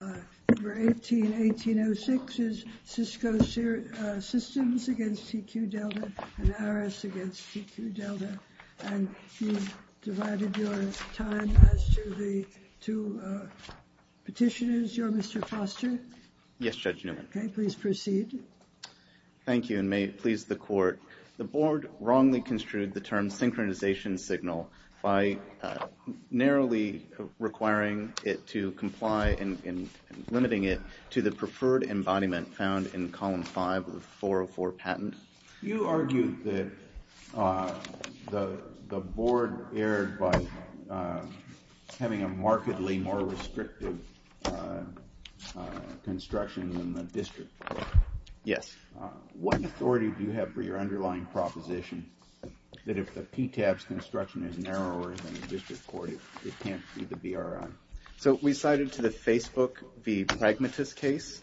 Number 18-1806 is Cisco Systems v. TQ Delta and Aris v. TQ Delta and you've divided your time as to the two petitioners. You're Mr. Foster? Yes, Judge Newman. Okay, please proceed. Thank you and may it please the Court. The Board wrongly construed the term synchronization signal by narrowly requiring it to comply and limiting it to the preferred embodiment found in column 5 of the 404 patent. You argued that the Board erred by having a markedly more restrictive construction than the District Court. Yes. What authority do you have for your underlying proposition that if the PTAB's construction is narrower than the District Court, it can't be the BRI? So we cited to the Facebook v. Pragmatist case,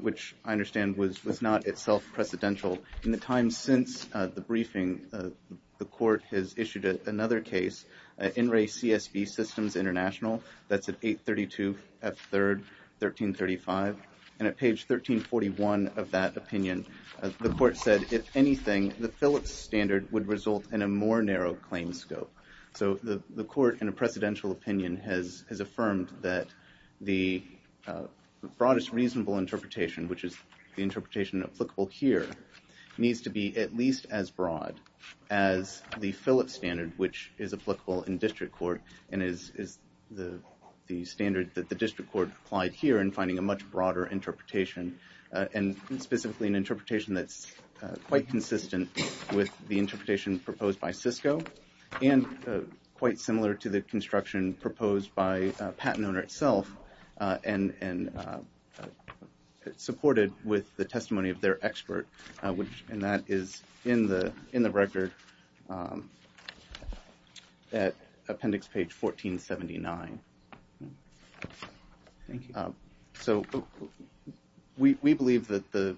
which I understand was not itself precedential. In the time since the briefing, the Court has issued another case, In Re CSB Systems International, that's at 832 F3rd 1335. And at page 1341 of that opinion, the Court said, if anything, the Phillips standard would result in a more narrow claim scope. So the Court, in a precedential opinion, has affirmed that the broadest reasonable interpretation, which is the interpretation applicable here, needs to be at least as broad as the Phillips standard, which is applicable in District Court. And is the standard that the District Court applied here in finding a much broader interpretation, and specifically an interpretation that's quite consistent with the interpretation proposed by Cisco, and quite similar to the construction proposed by a patent owner itself, and supported with the testimony of their expert. And that is in the record at appendix page 1479. Thank you. So we believe that the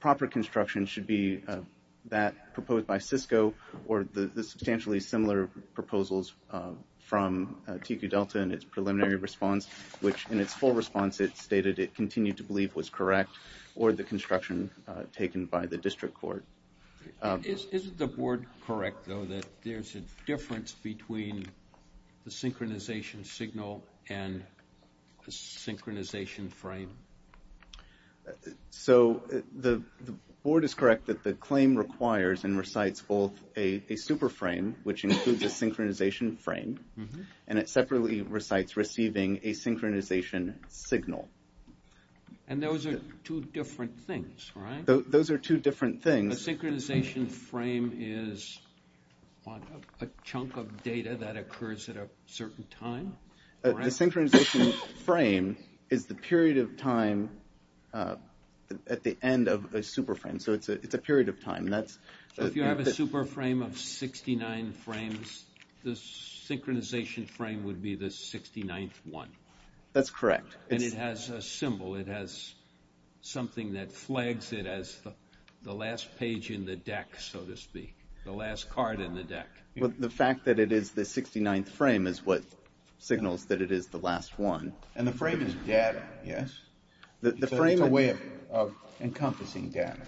proper construction should be that proposed by Cisco, or the substantially similar proposals from TQ Delta in its preliminary response, which in its full response it stated it continued to believe was correct, or the construction taken by the District Court. Isn't the board correct, though, that there's a difference between the synchronization signal and the synchronization frame? So the board is correct that the claim requires and recites both a super frame, which includes a synchronization frame, and it separately recites receiving a synchronization signal. And those are two different things, right? Those are two different things. A synchronization frame is a chunk of data that occurs at a certain time? The synchronization frame is the period of time at the end of a super frame. So it's a period of time. So if you have a super frame of 69 frames, the synchronization frame would be the 69th one? That's correct. And it has a symbol. It has something that flags it as the last page in the deck, so to speak, the last card in the deck. Well, the fact that it is the 69th frame is what signals that it is the last one. And the frame is data, yes? The frame is a way of encompassing data.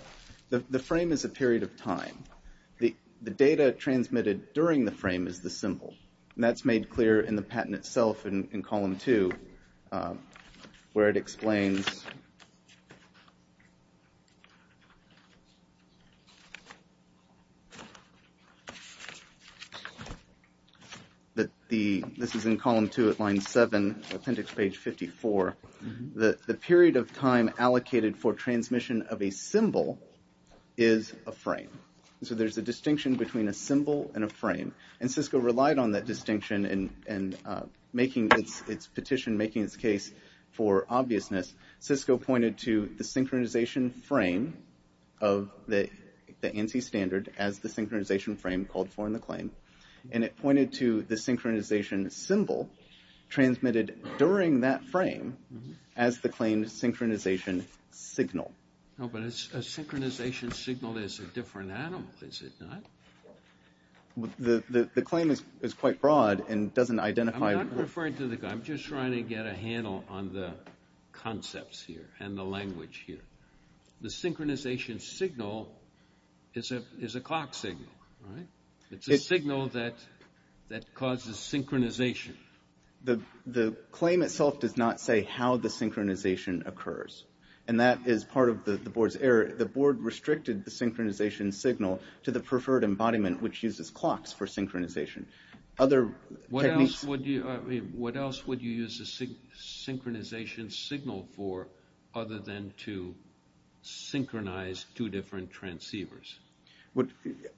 The frame is a period of time. The data transmitted during the frame is the symbol. And that's made clear in the patent itself in column two, where it explains that this is in column two at line seven, appendix page 54. The period of time allocated for transmission of a symbol is a frame. So there's a distinction between a symbol and a frame. And Cisco relied on that distinction in making its petition, making its case for obviousness. Cisco pointed to the synchronization frame of the ANSI standard as the synchronization frame called for in the claim. And it pointed to the synchronization symbol transmitted during that frame as the claim synchronization signal. No, but a synchronization signal is a different animal, is it not? The claim is quite broad and doesn't identify- I'm not referring to the- I'm just trying to get a handle on the concepts here and the language here. The synchronization signal is a clock signal, right? It's a signal that causes synchronization. The claim itself does not say how the synchronization occurs. And that is part of the board's error. to the preferred embodiment, which uses clocks for synchronization. Other techniques- What else would you use a synchronization signal for other than to synchronize two different transceivers?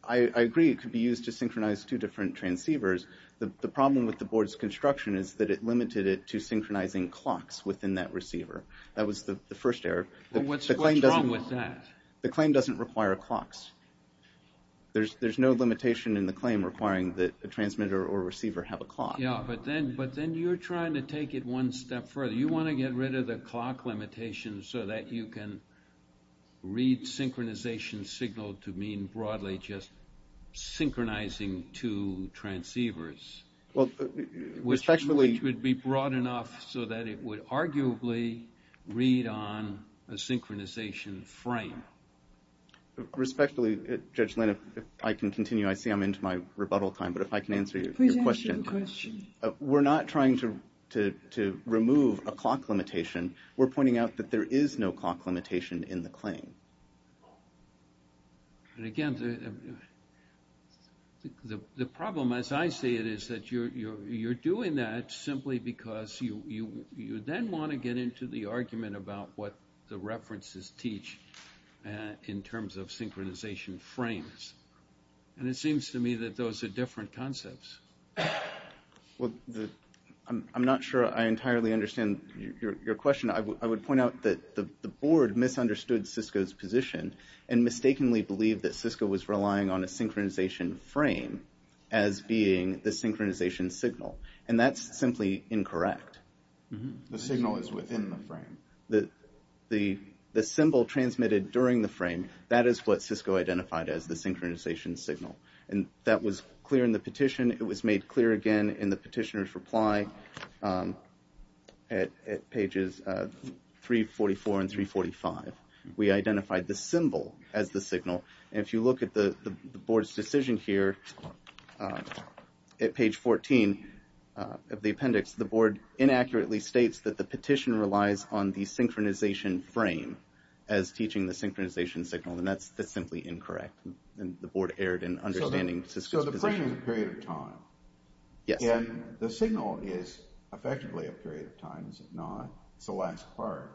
I agree it could be used to synchronize two different transceivers. The problem with the board's construction is that it limited it to synchronizing clocks within that receiver. That was the first error. What's wrong with that? The claim doesn't require clocks. There's no limitation in the claim requiring that a transmitter or receiver have a clock. Yeah, but then you're trying to take it one step further. You want to get rid of the clock limitation so that you can read synchronization signal to mean broadly just synchronizing two transceivers. Which would be broad enough so that it would arguably read on a synchronization frame. Respectfully, Judge Lin, if I can continue, I see I'm into my rebuttal time, but if I can answer your question. Please answer the question. We're not trying to remove a clock limitation. We're pointing out that there is no clock limitation in the claim. And again, the problem, as I see it, is that you're doing that simply because you then want to get into the argument about what the references teach in terms of synchronization frames. And it seems to me that those are different concepts. Well, I'm not sure I entirely understand your question. I would point out that the board misunderstood Cisco's position and mistakenly believed that Cisco was relying on a synchronization frame as being the synchronization signal. And that's simply incorrect. The signal is within the frame. The symbol transmitted during the frame, that is what Cisco identified as the synchronization signal. And that was clear in the petition. It was made clear again in the petitioner's reply at pages 344 and 345. We identified the symbol as the signal. And if you look at the board's decision here at page 14 of the appendix, the board inaccurately states that the petition relies on the synchronization frame as teaching the synchronization signal. And that's simply incorrect. And the board erred in understanding Cisco's position. So the frame is a period of time. Yes. And the signal is effectively a period of time, is it not? It's the last part.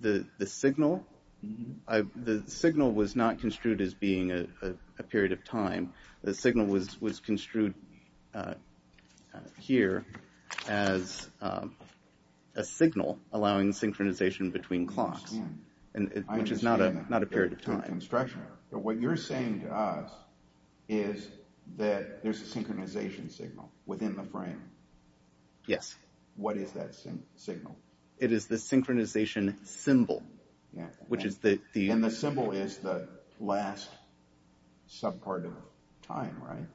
The signal was not construed as being a period of time. The signal was construed here as a signal allowing synchronization between clocks, which is not a period of time. But what you're saying to us is that there's a synchronization signal within the frame. Yes. What is that signal? It is the synchronization symbol, which is the... And the symbol is the last sub-part of time, right?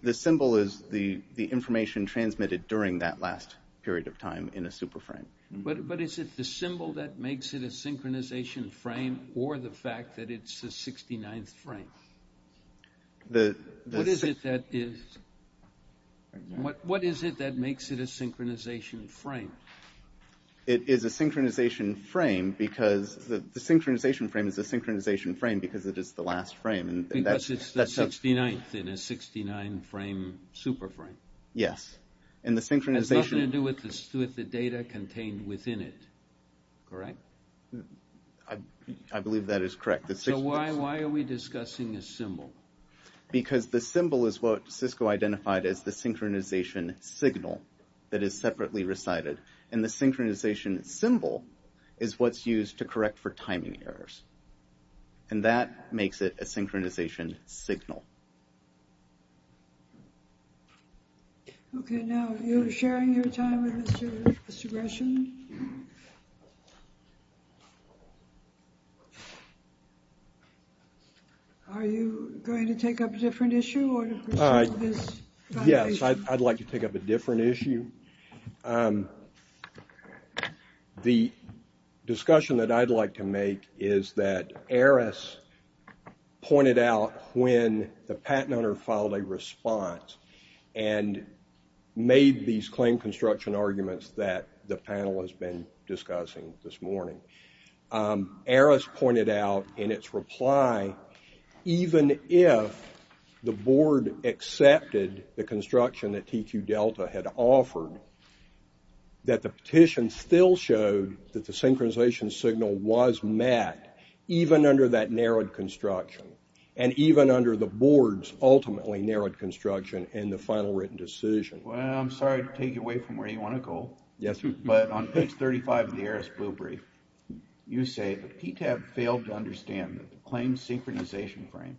The symbol is the information transmitted during that last period of time in a super frame. But is it the symbol that makes it a synchronization frame or the fact that it's the 69th frame? What is it that makes it a synchronization frame? It is a synchronization frame because the synchronization frame is a synchronization frame because it is the last frame. Because it's the 69th in a 69 frame super frame. Yes. And the synchronization... It has nothing to do with the data contained within it, correct? I believe that is correct. So why are we discussing a symbol? Because the symbol is what Cisco identified as the synchronization signal that is separately recited. And the synchronization symbol is what's used to correct for timing errors. And that makes it a synchronization signal. Okay, now you're sharing your time with Mr. Gresham. Are you going to take up a different issue? Yes, I'd like to take up a different issue. The discussion that I'd like to make is that Eris pointed out when the patent owner filed a response and made these claim construction arguments that the panel has been discussing this morning. Eris pointed out in its reply, even if the board accepted the construction that TQ Delta had offered, that the petition still showed that the synchronization signal was met even under that narrowed construction and even under the board's ultimately narrowed construction in the final written decision. Well, I'm sorry to take you away from where you want to go. Yes. But on page 35 of the Eris blue brief, you say that PTAB failed to understand that the claimed synchronization frame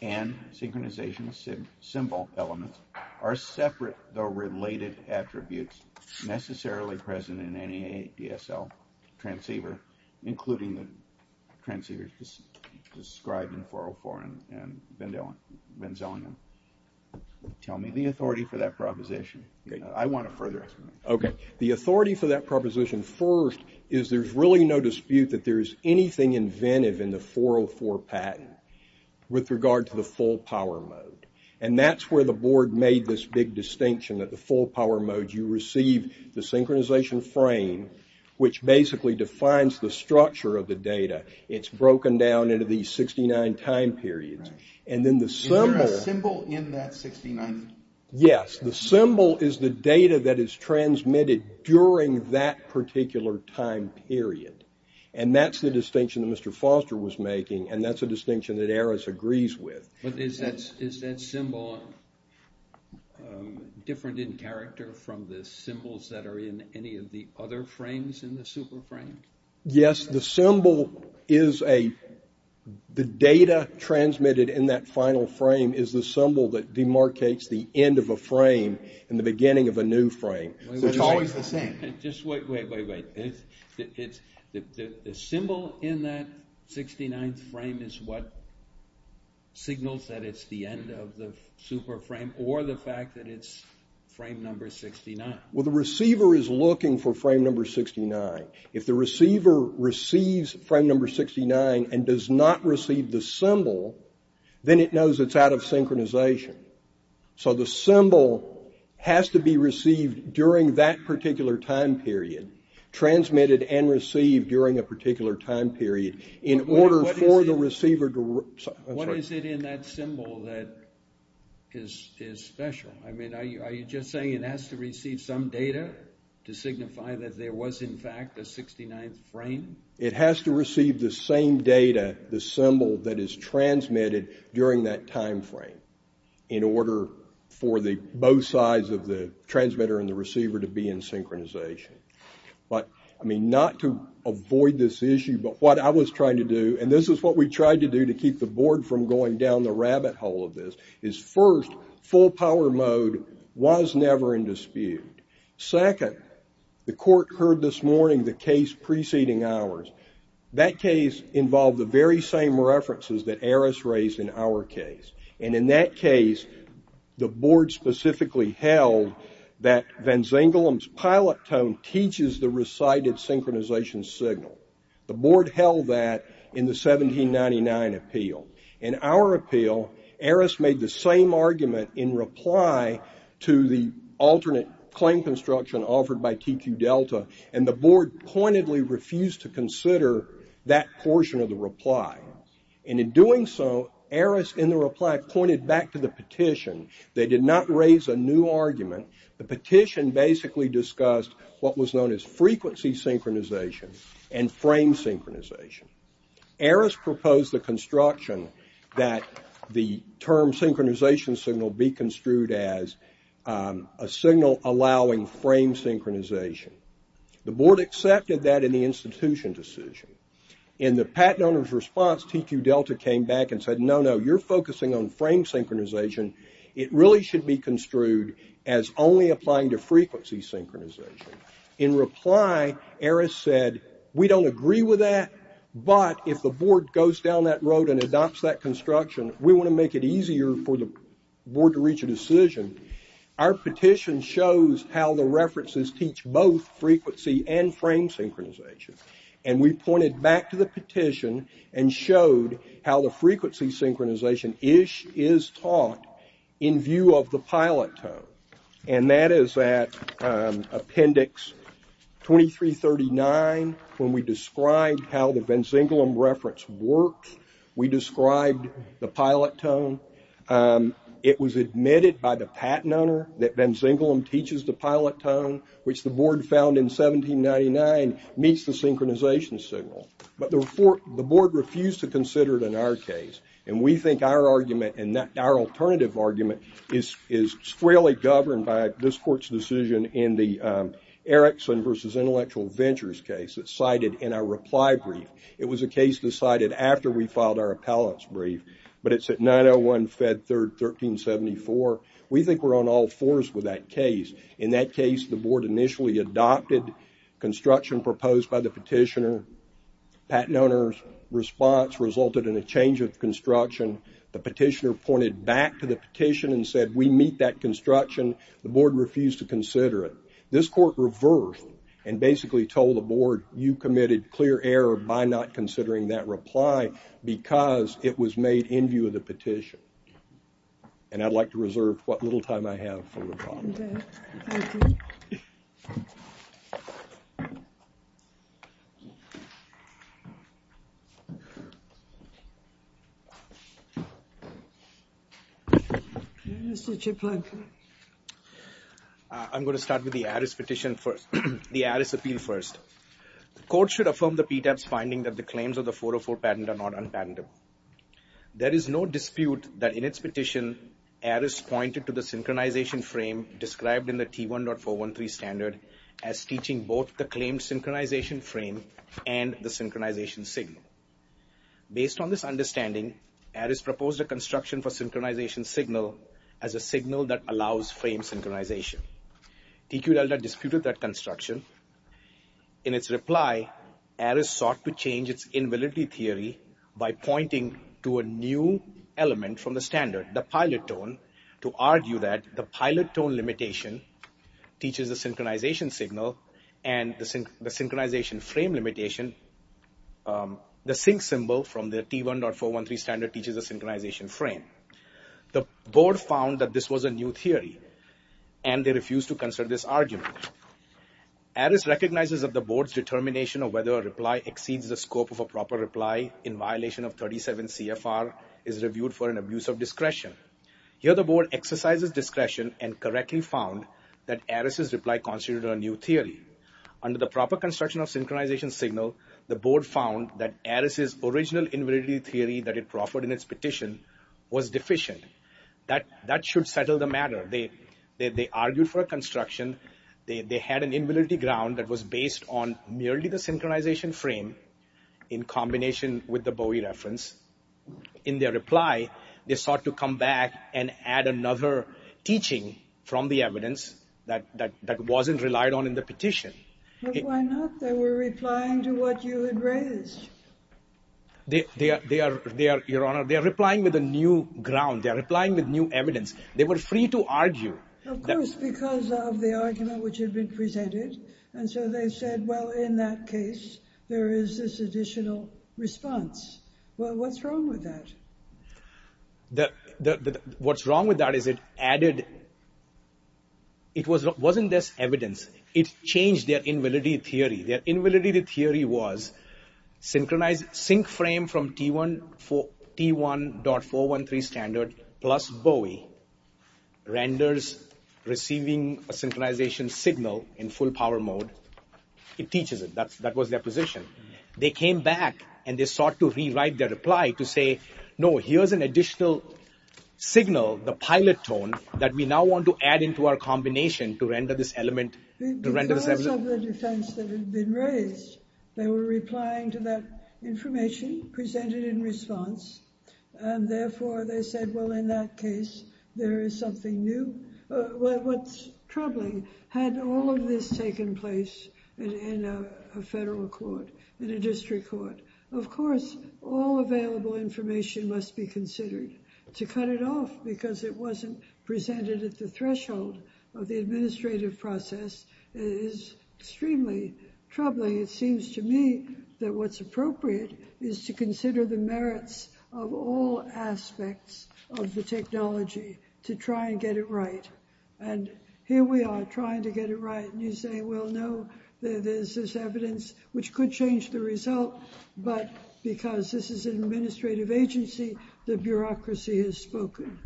and synchronization symbol elements are separate though related attributes necessarily present in any DSL transceiver, including the transceivers described in 404 and Venzelium. Tell me the authority for that proposition. I want a further explanation. Okay. The authority for that proposition first is there's really no dispute that there's anything inventive in the 404 patent with regard to the full power mode. And that's where the board made this big distinction that the full power mode, you receive the synchronization frame, which basically defines the structure of the data. It's broken down into these 69 time periods. Is there a symbol in that 69? Yes. The symbol is the data that is transmitted during that particular time period. And that's the distinction that Mr. Foster was making, and that's a distinction that Eris agrees with. But is that symbol different in character from the symbols that are in any of the other frames in the super frame? Yes, the symbol is a, the data transmitted in that final frame is the symbol that demarcates the end of a frame and the beginning of a new frame. It's always the same. Just wait, wait, wait, wait. The symbol in that 69th frame is what signals that it's the end of the super frame or the fact that it's frame number 69. Well, the receiver is looking for frame number 69. If the receiver receives frame number 69 and does not receive the symbol, then it knows it's out of synchronization. So the symbol has to be received during that particular time period, transmitted and received during a particular time period, in order for the receiver to, that's right. What is it in that symbol that is special? I mean, are you just saying it has to receive some data to signify that there was, in fact, a 69th frame? It has to receive the same data, the symbol that is transmitted during that time frame, in order for both sides of the transmitter and the receiver to be in synchronization. But, I mean, not to avoid this issue, but what I was trying to do, and this is what we tried to do to keep the board from going down the rabbit hole of this, is first, full power mode was never in dispute. Second, the court heard this morning the case preceding ours. That case involved the very same references that Eris raised in our case. And in that case, the board specifically held that Van Zingelam's pilot tone teaches the recited synchronization signal. The board held that in the 1799 appeal. In our appeal, Eris made the same argument in reply to the alternate claim construction offered by TQ Delta, and the board pointedly refused to consider that portion of the reply. And in doing so, Eris, in the reply, pointed back to the petition. They did not raise a new argument. The petition basically discussed what was known as frequency synchronization and frame synchronization. Eris proposed the construction that the term synchronization signal be construed as a signal allowing frame synchronization. The board accepted that in the institution decision. In the patent owner's response, TQ Delta came back and said, no, no, you're focusing on frame synchronization. It really should be construed as only applying to frequency synchronization. In reply, Eris said, we don't agree with that, but if the board goes down that road and adopts that construction, we want to make it easier for the board to reach a decision. Our petition shows how the references teach both frequency and frame synchronization. And we pointed back to the petition and showed how the frequency synchronization is taught in view of the pilot tone. And that is at appendix 2339, when we described how the Venziglum reference works. We described the pilot tone. It was admitted by the patent owner that Venziglum teaches the pilot tone, which the board found in 1799 meets the synchronization signal. But the board refused to consider it in our case. And we think our argument and our alternative argument is freely governed by this court's decision in the Erickson versus Intellectual Ventures case that's cited in our reply brief. It was a case decided after we filed our appellate's brief, but it's at 901 Fed 3rd 1374. We think we're on all fours with that case. In that case, the board initially adopted construction proposed by the petitioner. The patent owner's response resulted in a change of construction. The petitioner pointed back to the petition and said, we meet that construction. The board refused to consider it. This court reversed and basically told the board, you committed clear error by not considering that reply because it was made in view of the petition. And I'd like to reserve what little time I have for rebuttal. Thank you. Mr. Chiplunk. I'm going to start with the Aris petition first. The Aris appeal first. The court should affirm the PTAB's finding that the claims of the 404 patent are not unpatentable. There is no dispute that in its petition, Aris pointed to the synchronization frame described in the T1.413 standard as teaching both the claimed synchronization frame and the synchronization signal. Based on this understanding, Aris proposed a construction for synchronization signal as a signal that allows frame synchronization. TQ Delta disputed that construction. In its reply, Aris sought to change its invalidity theory by pointing to a new element from the standard, the pilot tone, to argue that the pilot tone limitation teaches the synchronization signal and the synchronization frame limitation, the sync symbol from the T1.413 standard teaches the synchronization frame. The board found that this was a new theory, and they refused to consider this argument. Aris recognizes that the board's determination of whether a reply exceeds the scope of a proper reply in violation of 37 CFR is reviewed for an abuse of discretion. Here the board exercises discretion and correctly found that Aris' reply constituted a new theory. Under the proper construction of synchronization signal, the board found that Aris' original invalidity theory that it proffered in its petition was deficient. That should settle the matter. They argued for a construction. They had an invalidity ground that was based on merely the synchronization frame in combination with the Bowie reference. In their reply, they sought to come back and add another teaching from the evidence that wasn't relied on in the petition. But why not? They were replying to what you had raised. They are replying with a new ground. They are replying with new evidence. They were free to argue. Of course, because of the argument which had been presented. And so they said, well, in that case, there is this additional response. Well, what's wrong with that? What's wrong with that is it added... It wasn't just evidence. It changed their invalidity theory. Their invalidity theory was synchronized sync frame from T1.413 standard plus Bowie renders receiving a synchronization signal in full power mode. It teaches it. That was their position. They came back and they sought to rewrite their reply to say, no, here's an additional signal, the pilot tone, that we now want to add into our combination to render this element... Because of the defense that had been raised, they were replying to that information presented in response. And therefore, they said, well, in that case, there is something new. What's troubling, had all of this taken place in a federal court, in a district court, of course, all available information must be considered to cut it off because it wasn't presented at the threshold of the administrative process. It is extremely troubling. It seems to me that what's appropriate is to consider the merits of all aspects of the technology to try and get it right. And here we are trying to get it right. And you say, well, no, there's this evidence which could change the result. But because this is an administrative agency, the bureaucracy has spoken.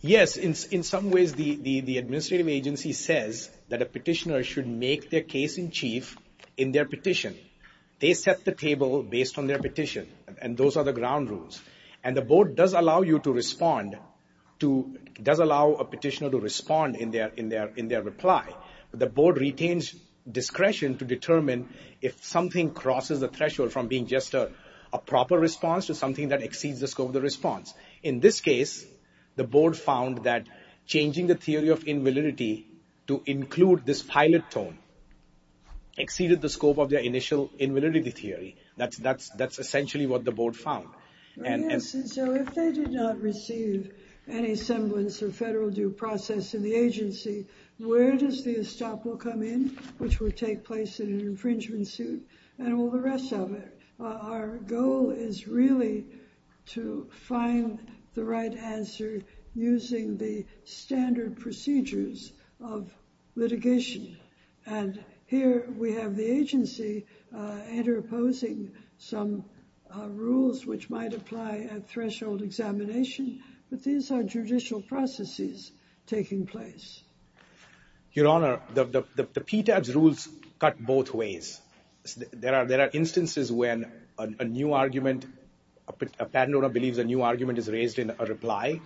Yes, in some ways, the administrative agency says that a petitioner should make their case in chief in their petition. They set the table based on their petition. And those are the ground rules. And the board does allow you to respond to... does allow a petitioner to respond in their reply. The board retains discretion to determine if something crosses the threshold from being just a proper response to something that exceeds the scope of the response. In this case, the board found that changing the theory of invalidity to include this pilot tone exceeded the scope of their initial invalidity theory. That's essentially what the board found. So if they did not receive any semblance of federal due process in the agency, where does the estoppel come in, which would take place in an infringement suit, and all the rest of it? Our goal is really to find the right answer using the standard procedures of litigation. And here we have the agency interposing some rules which might apply at threshold examination. But these are judicial processes taking place. Your Honor, the PTAB's rules cut both ways. There are instances when a new argument, a patent owner believes a new argument is raised in a reply.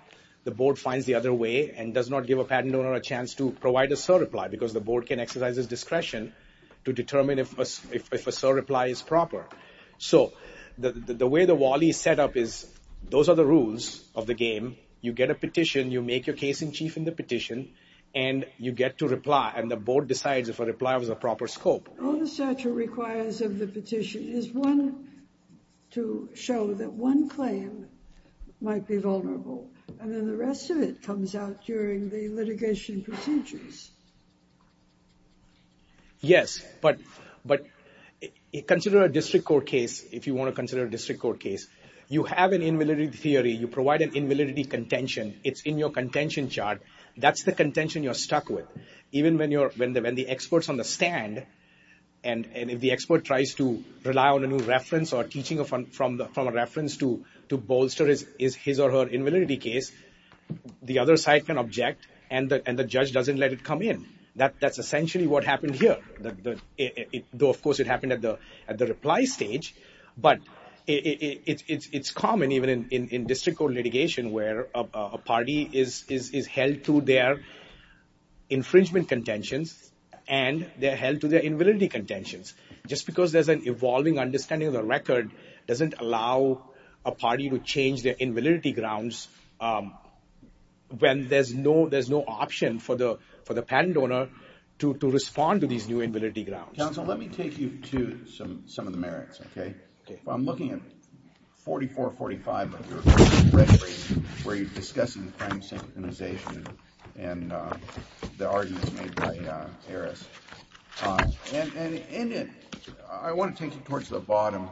The board finds the other way and does not give a patent owner a chance to provide a surreply because the board can exercise its discretion to determine if a surreply is proper. So the way the Wally is set up is those are the rules of the game. You get a petition, you make your case in chief in the petition, and you get to reply and the board decides if a reply was a proper scope. All the statute requires of the petition is one to show that one claim might be vulnerable and then the rest of it comes out during the litigation procedures. Yes, but consider a district court case if you want to consider a district court case. You have an invalidity theory. You provide an invalidity contention. It's in your contention chart. That's the contention you're stuck with. Even when the expert's on the stand and if the expert tries to rely on a new reference or teaching from a reference to bolster his or her invalidity case, the other side can object and the judge doesn't let it come in. That's essentially what happened here. Though, of course, it happened at the reply stage, but it's common even in district court litigation where a party is held to their infringement contentions and they're held to their invalidity contentions. Just because there's an evolving understanding of the record doesn't allow a party to change their invalidity grounds when there's no option for the patent owner to respond to these new invalidity grounds. Counsel, let me take you to some of the merits. I'm looking at 4445 of your record where you're discussing crime synchronization and the arguments made by Harris. I want to take you towards the bottom.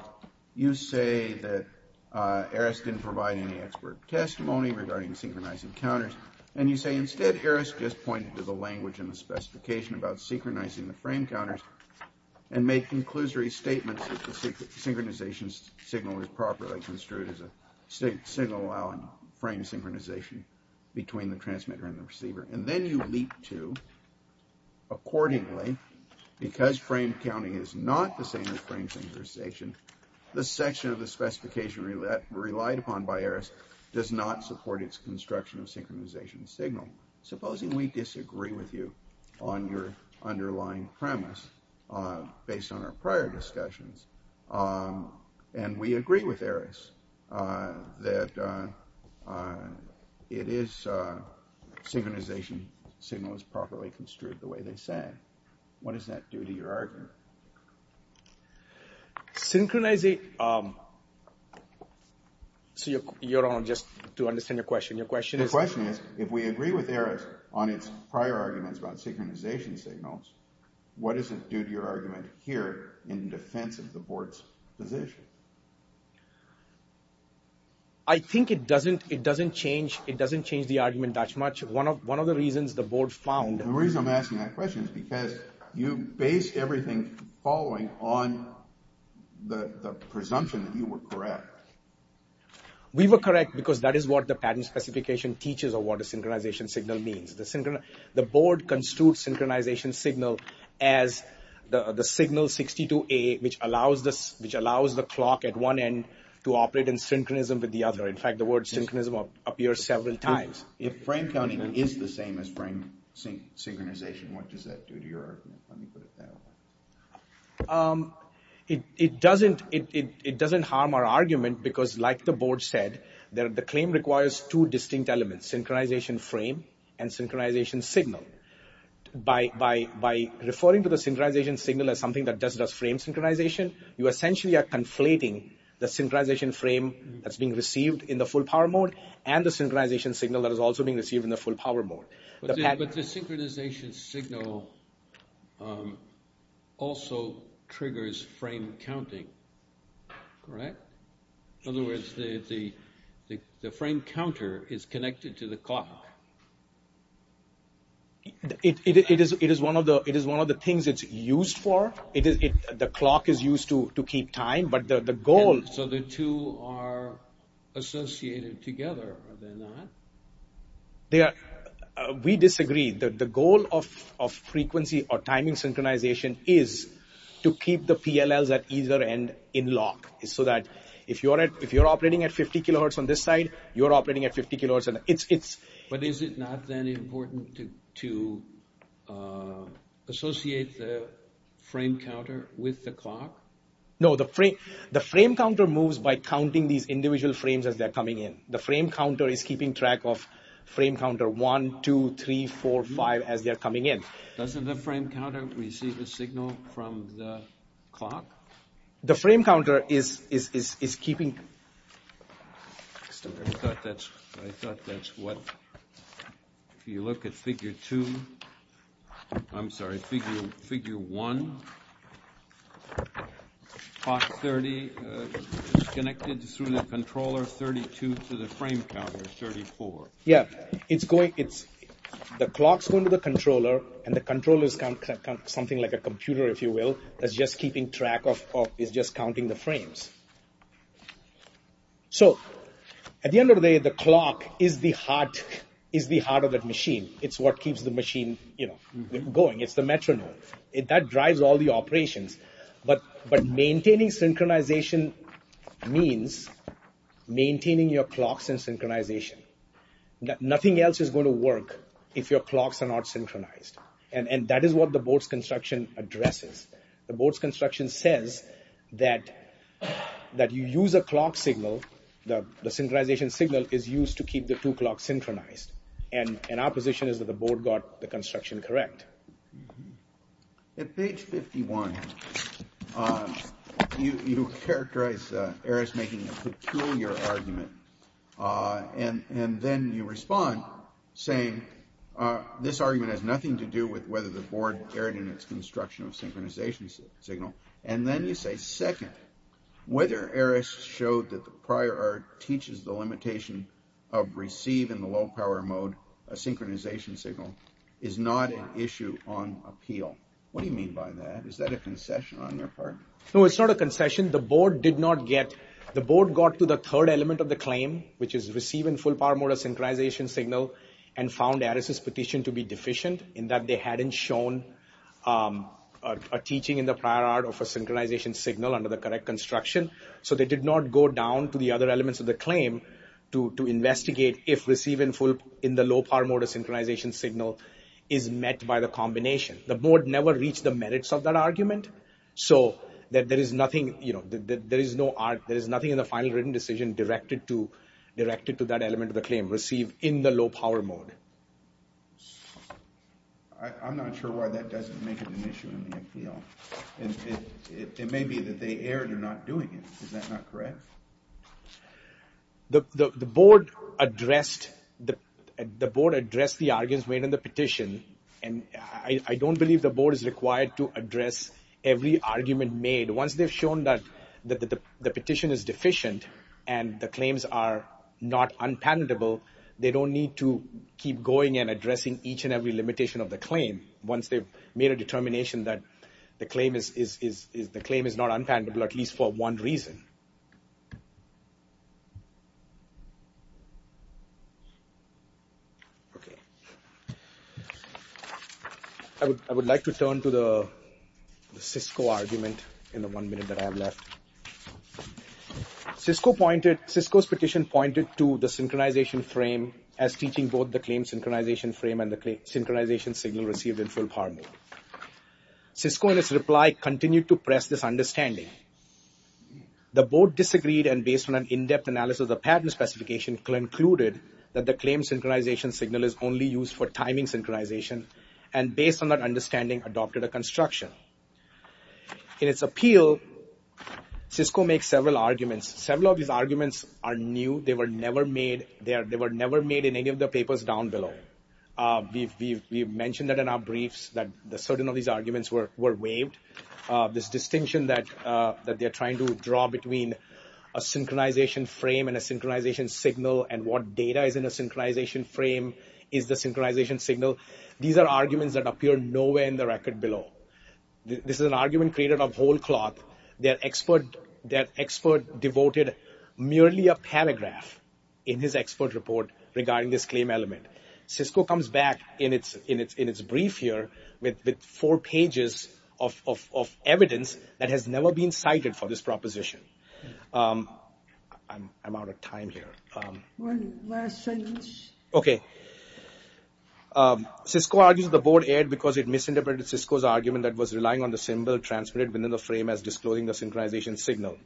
You say that Harris didn't provide any expert testimony regarding synchronizing counters and you say instead Harris just pointed to the language and the specification about synchronizing the frame counters and made conclusory statements that the synchronization signal was properly construed as a signal allowing frame synchronization between the transmitter and the receiver. And then you leap to, accordingly, because frame counting is not the same as frame synchronization, the section of the specification relied upon by Harris does not support its construction of synchronization signal. Supposing we disagree with you on your underlying premise based on our prior discussions and we agree with Harris that it is synchronization signal is properly construed the way they say. What does that do to your argument? Synchronizing... Your Honor, just to understand your question, your question is... The question is if we agree with Harris on its prior arguments about synchronization signals, what does it do to your argument here in defense of the board's position? I think it doesn't change the argument that much. One of the reasons the board found... The reason I'm asking that question is because you base everything following on the presumption that you were correct. We were correct because that is what the patent specification teaches of what a synchronization signal means. The board construed synchronization signal as the signal 62A, which allows the clock at one end to operate in synchronism with the other. In fact, the word synchronism appears several times. If frame counting is the same as frame synchronization, what does that do to your argument? Let me put it that way. It doesn't harm our argument because, like the board said, the claim requires two distinct elements, synchronization frame and synchronization signal. By referring to the synchronization signal as something that does frame synchronization, you essentially are conflating the synchronization frame that's being received in the full power mode and the synchronization signal that is also being received in the full power mode. But the synchronization signal also triggers frame counting, correct? In other words, the frame counter is connected to the clock. It is one of the things it's used for. The clock is used to keep time. So the two are associated together, are they not? We disagree. The goal of frequency or timing synchronization is to keep the PLLs at either end in lock so that if you're operating at 50 kilohertz on this side, you're operating at 50 kilohertz. But is it not then important to associate the frame counter with the clock? No, the frame counter moves by counting these individual frames as they're coming in. The frame counter is keeping track of frame counter 1, 2, 3, 4, 5 as they're coming in. Doesn't the frame counter receive a signal from the clock? The frame counter is keeping track. I thought that's what, if you look at figure 2, I'm sorry, figure 1, clock 30, it's connected through the controller 32 to the frame counter 34. Yeah, it's going, the clock's going to the controller, and the controller is something like a computer, if you will, that's just keeping track of, is just counting the frames. So at the end of the day, the clock is the heart of that machine. It's what keeps the machine, you know, going. It's the metronome. That drives all the operations. But maintaining synchronization means maintaining your clocks in synchronization. Nothing else is going to work if your clocks are not synchronized. And that is what the board's construction addresses. The board's construction says that you use a clock signal, the synchronization signal is used to keep the two clocks synchronized. And our position is that the board got the construction correct. At page 51, you characterize Eris making a peculiar argument, and then you respond saying, this argument has nothing to do with whether the board erred in its construction of synchronization signal. And then you say, second, whether Eris showed that the prior art teaches the limitation of receive in the low power mode, a synchronization signal, is not an issue on appeal. What do you mean by that? Is that a concession on your part? No, it's not a concession. The board did not get, the board got to the third element of the claim, which is receive in full power mode a synchronization signal, and found Eris's petition to be deficient in that they hadn't shown a teaching in the prior art of a synchronization signal under the correct construction. So they did not go down to the other elements of the claim to investigate if receiving in the low power mode a synchronization signal is met by the combination. The board never reached the merits of that argument. So there is nothing, you know, there is no art, there is nothing in the final written decision directed to, directed to that element of the claim, receive in the low power mode. I'm not sure why that doesn't make it an issue in the appeal. It may be that they erred in not doing it. Is that not correct? The board addressed, the board addressed the arguments made in the petition, and I don't believe the board is required to address every argument made. Once they've shown that the petition is deficient and the claims are not unpalatable, they don't need to keep going and addressing each and every limitation of the claim once they've made a determination that the claim is, the claim is not unpalatable at least for one reason. Okay. I would, I would like to turn to the Cisco argument in the one minute that I have left. Cisco pointed, Cisco's petition pointed to the synchronization frame as teaching both the claim synchronization frame and the synchronization signal received in full power mode. Cisco in its reply continued to press this understanding. The board disagreed and based on an in-depth analysis of the patent specification concluded that the claim synchronization signal is only used for timing synchronization and based on that understanding adopted a construction. In its appeal, Cisco makes several arguments. Several of these arguments are new. They were never made, they were never made in any of the papers down below. We've mentioned that in our briefs that certain of these arguments were waived. This distinction that, that they're trying to draw between a synchronization frame and a synchronization signal and what data is in a synchronization frame is the synchronization signal. These are arguments that appear nowhere in the record below. This is an argument created of whole cloth. Their expert, their expert devoted merely a paragraph in his expert report regarding this claim element. Cisco comes back in its brief here with four pages of evidence that has never been cited for this proposition. I'm out of time here. One last sentence. Okay. Cisco argues the board erred because it misinterpreted Cisco's argument that was relying on the symbol transmitted within the frame as disclosing the synchronization signal.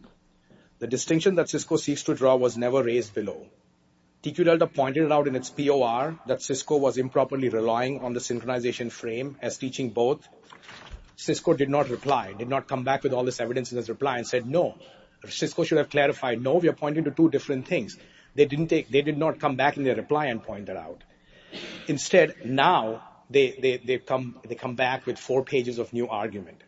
The distinction that Cisco seeks to draw was never raised below. TQ Delta pointed out in its POR that Cisco was improperly relying on the synchronization frame as teaching both. Cisco did not reply, did not come back with all this evidence in its reply and said, no, Cisco should have clarified, no, we are pointing to two different things. They did not come back in their reply and point that out. Instead, now, they come back with four pages of new argument.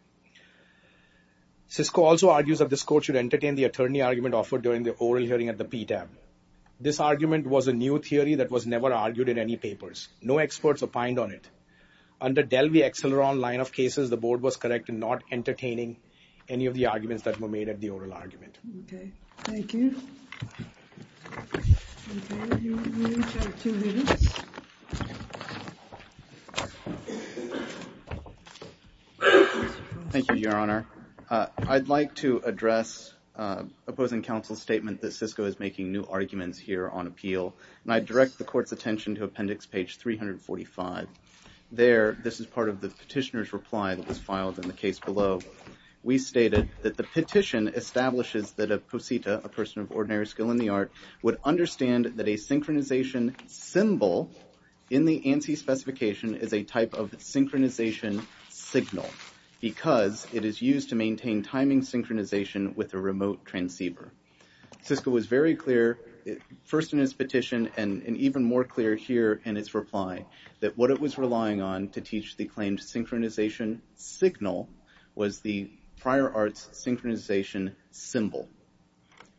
Cisco also argues that this court should entertain the attorney argument offered during the oral hearing at the PTAB. This argument was a new theory that was never argued in any papers. No experts opined on it. Under Delvey-Exceleron line of cases, the board was correct in not entertaining any of the arguments that were made at the oral argument. Thank you. Thank you, Your Honor. I'd like to address opposing counsel's statement that Cisco is making new arguments here on appeal, and I direct the court's attention to appendix page 345. There, this is part of the petitioner's reply that was filed in the case below. We stated that the petition establishes that a posita, a person of ordinary skill in the art, would understand that a synchronization symbol in the ANSI specification is a type of synchronization signal because it is used to maintain timing synchronization with a remote transceiver. Cisco was very clear, first in its petition, and even more clear here in its reply, that what it was relying on to teach the claimed synchronization signal was the prior arts synchronization symbol.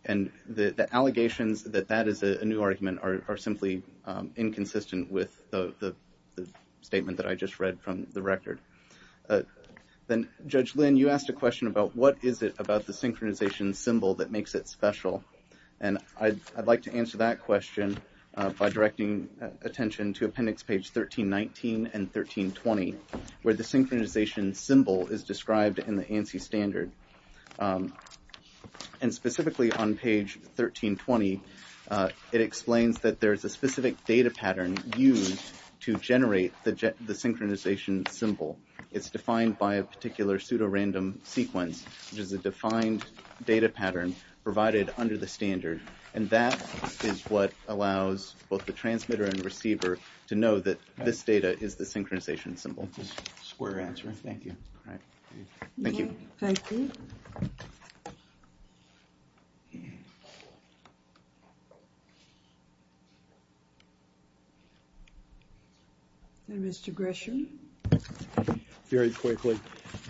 And the allegations that that is a new argument are simply inconsistent with the statement that I just read from the record. Then, Judge Lynn, you asked a question about what is it about the synchronization symbol that makes it special, and I'd like to answer that question by directing attention to appendix page 1319 and 1320, where the synchronization symbol is described in the ANSI standard. And specifically on page 1320, it explains that there's a specific data pattern used to generate the synchronization symbol. It's defined by a particular pseudorandom sequence, which is a defined data pattern provided under the standard, and that is what allows both the transmitter and receiver to know that this data is the synchronization symbol. Square answer. Thank you. Thank you. Thank you. Thank you. Mr. Gresham. Very quickly,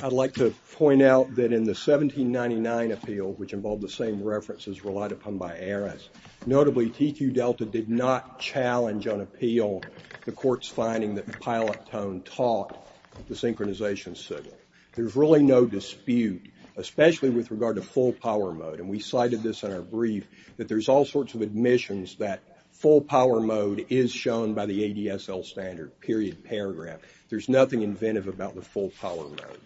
I'd like to point out that in the 1799 appeal, which involved the same references relied upon by Aris, notably TQ Delta did not challenge on appeal the court's finding that the pilot tone taught the synchronization symbol. There's really no dispute, especially with regard to full power mode, and we cited this in our brief, that there's all sorts of admissions that full power mode is shown by the ADSL standard, period, paragraph. There's nothing inventive about the full power mode.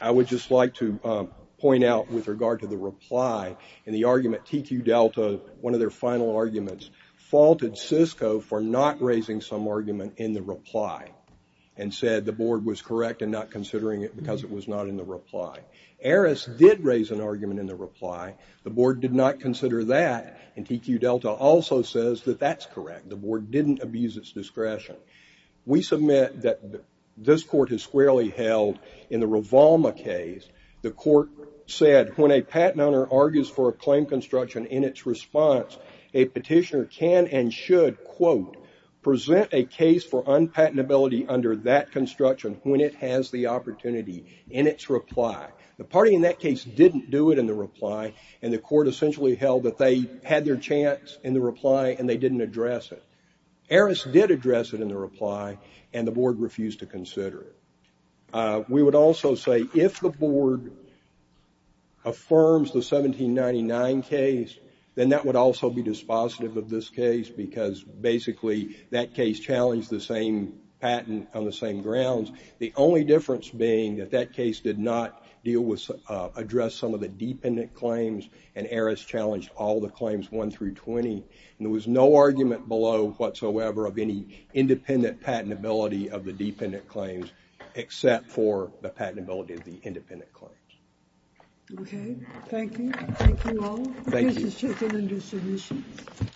I would just like to point out with regard to the reply in the argument, TQ Delta, one of their final arguments faulted Cisco for not raising some argument in the reply, and said the board was correct in not considering it because it was not in the reply. Aris did raise an argument in the reply. The board did not consider that, and TQ Delta also says that that's correct. The board didn't abuse its discretion. We submit that this court has squarely held in the Rivalma case, the court said when a patent owner argues for a claim construction in its response, a petitioner can and should, quote, present a case for unpatentability under that construction when it has the opportunity in its reply. The party in that case didn't do it in the reply, and the court essentially held that they had their chance in the reply, and they didn't address it. Aris did address it in the reply, and the board refused to consider it. We would also say if the board affirms the 1799 case, then that would also be dispositive of this case, because basically that case challenged the same patent on the same grounds. The only difference being that that case did not address some of the dependent claims, and Aris challenged all the claims 1 through 20, and there was no argument below whatsoever of any independent patentability of the dependent claims, except for the patentability of the independent claims. Okay. Thank you. Thank you all. Thank you. Thank you.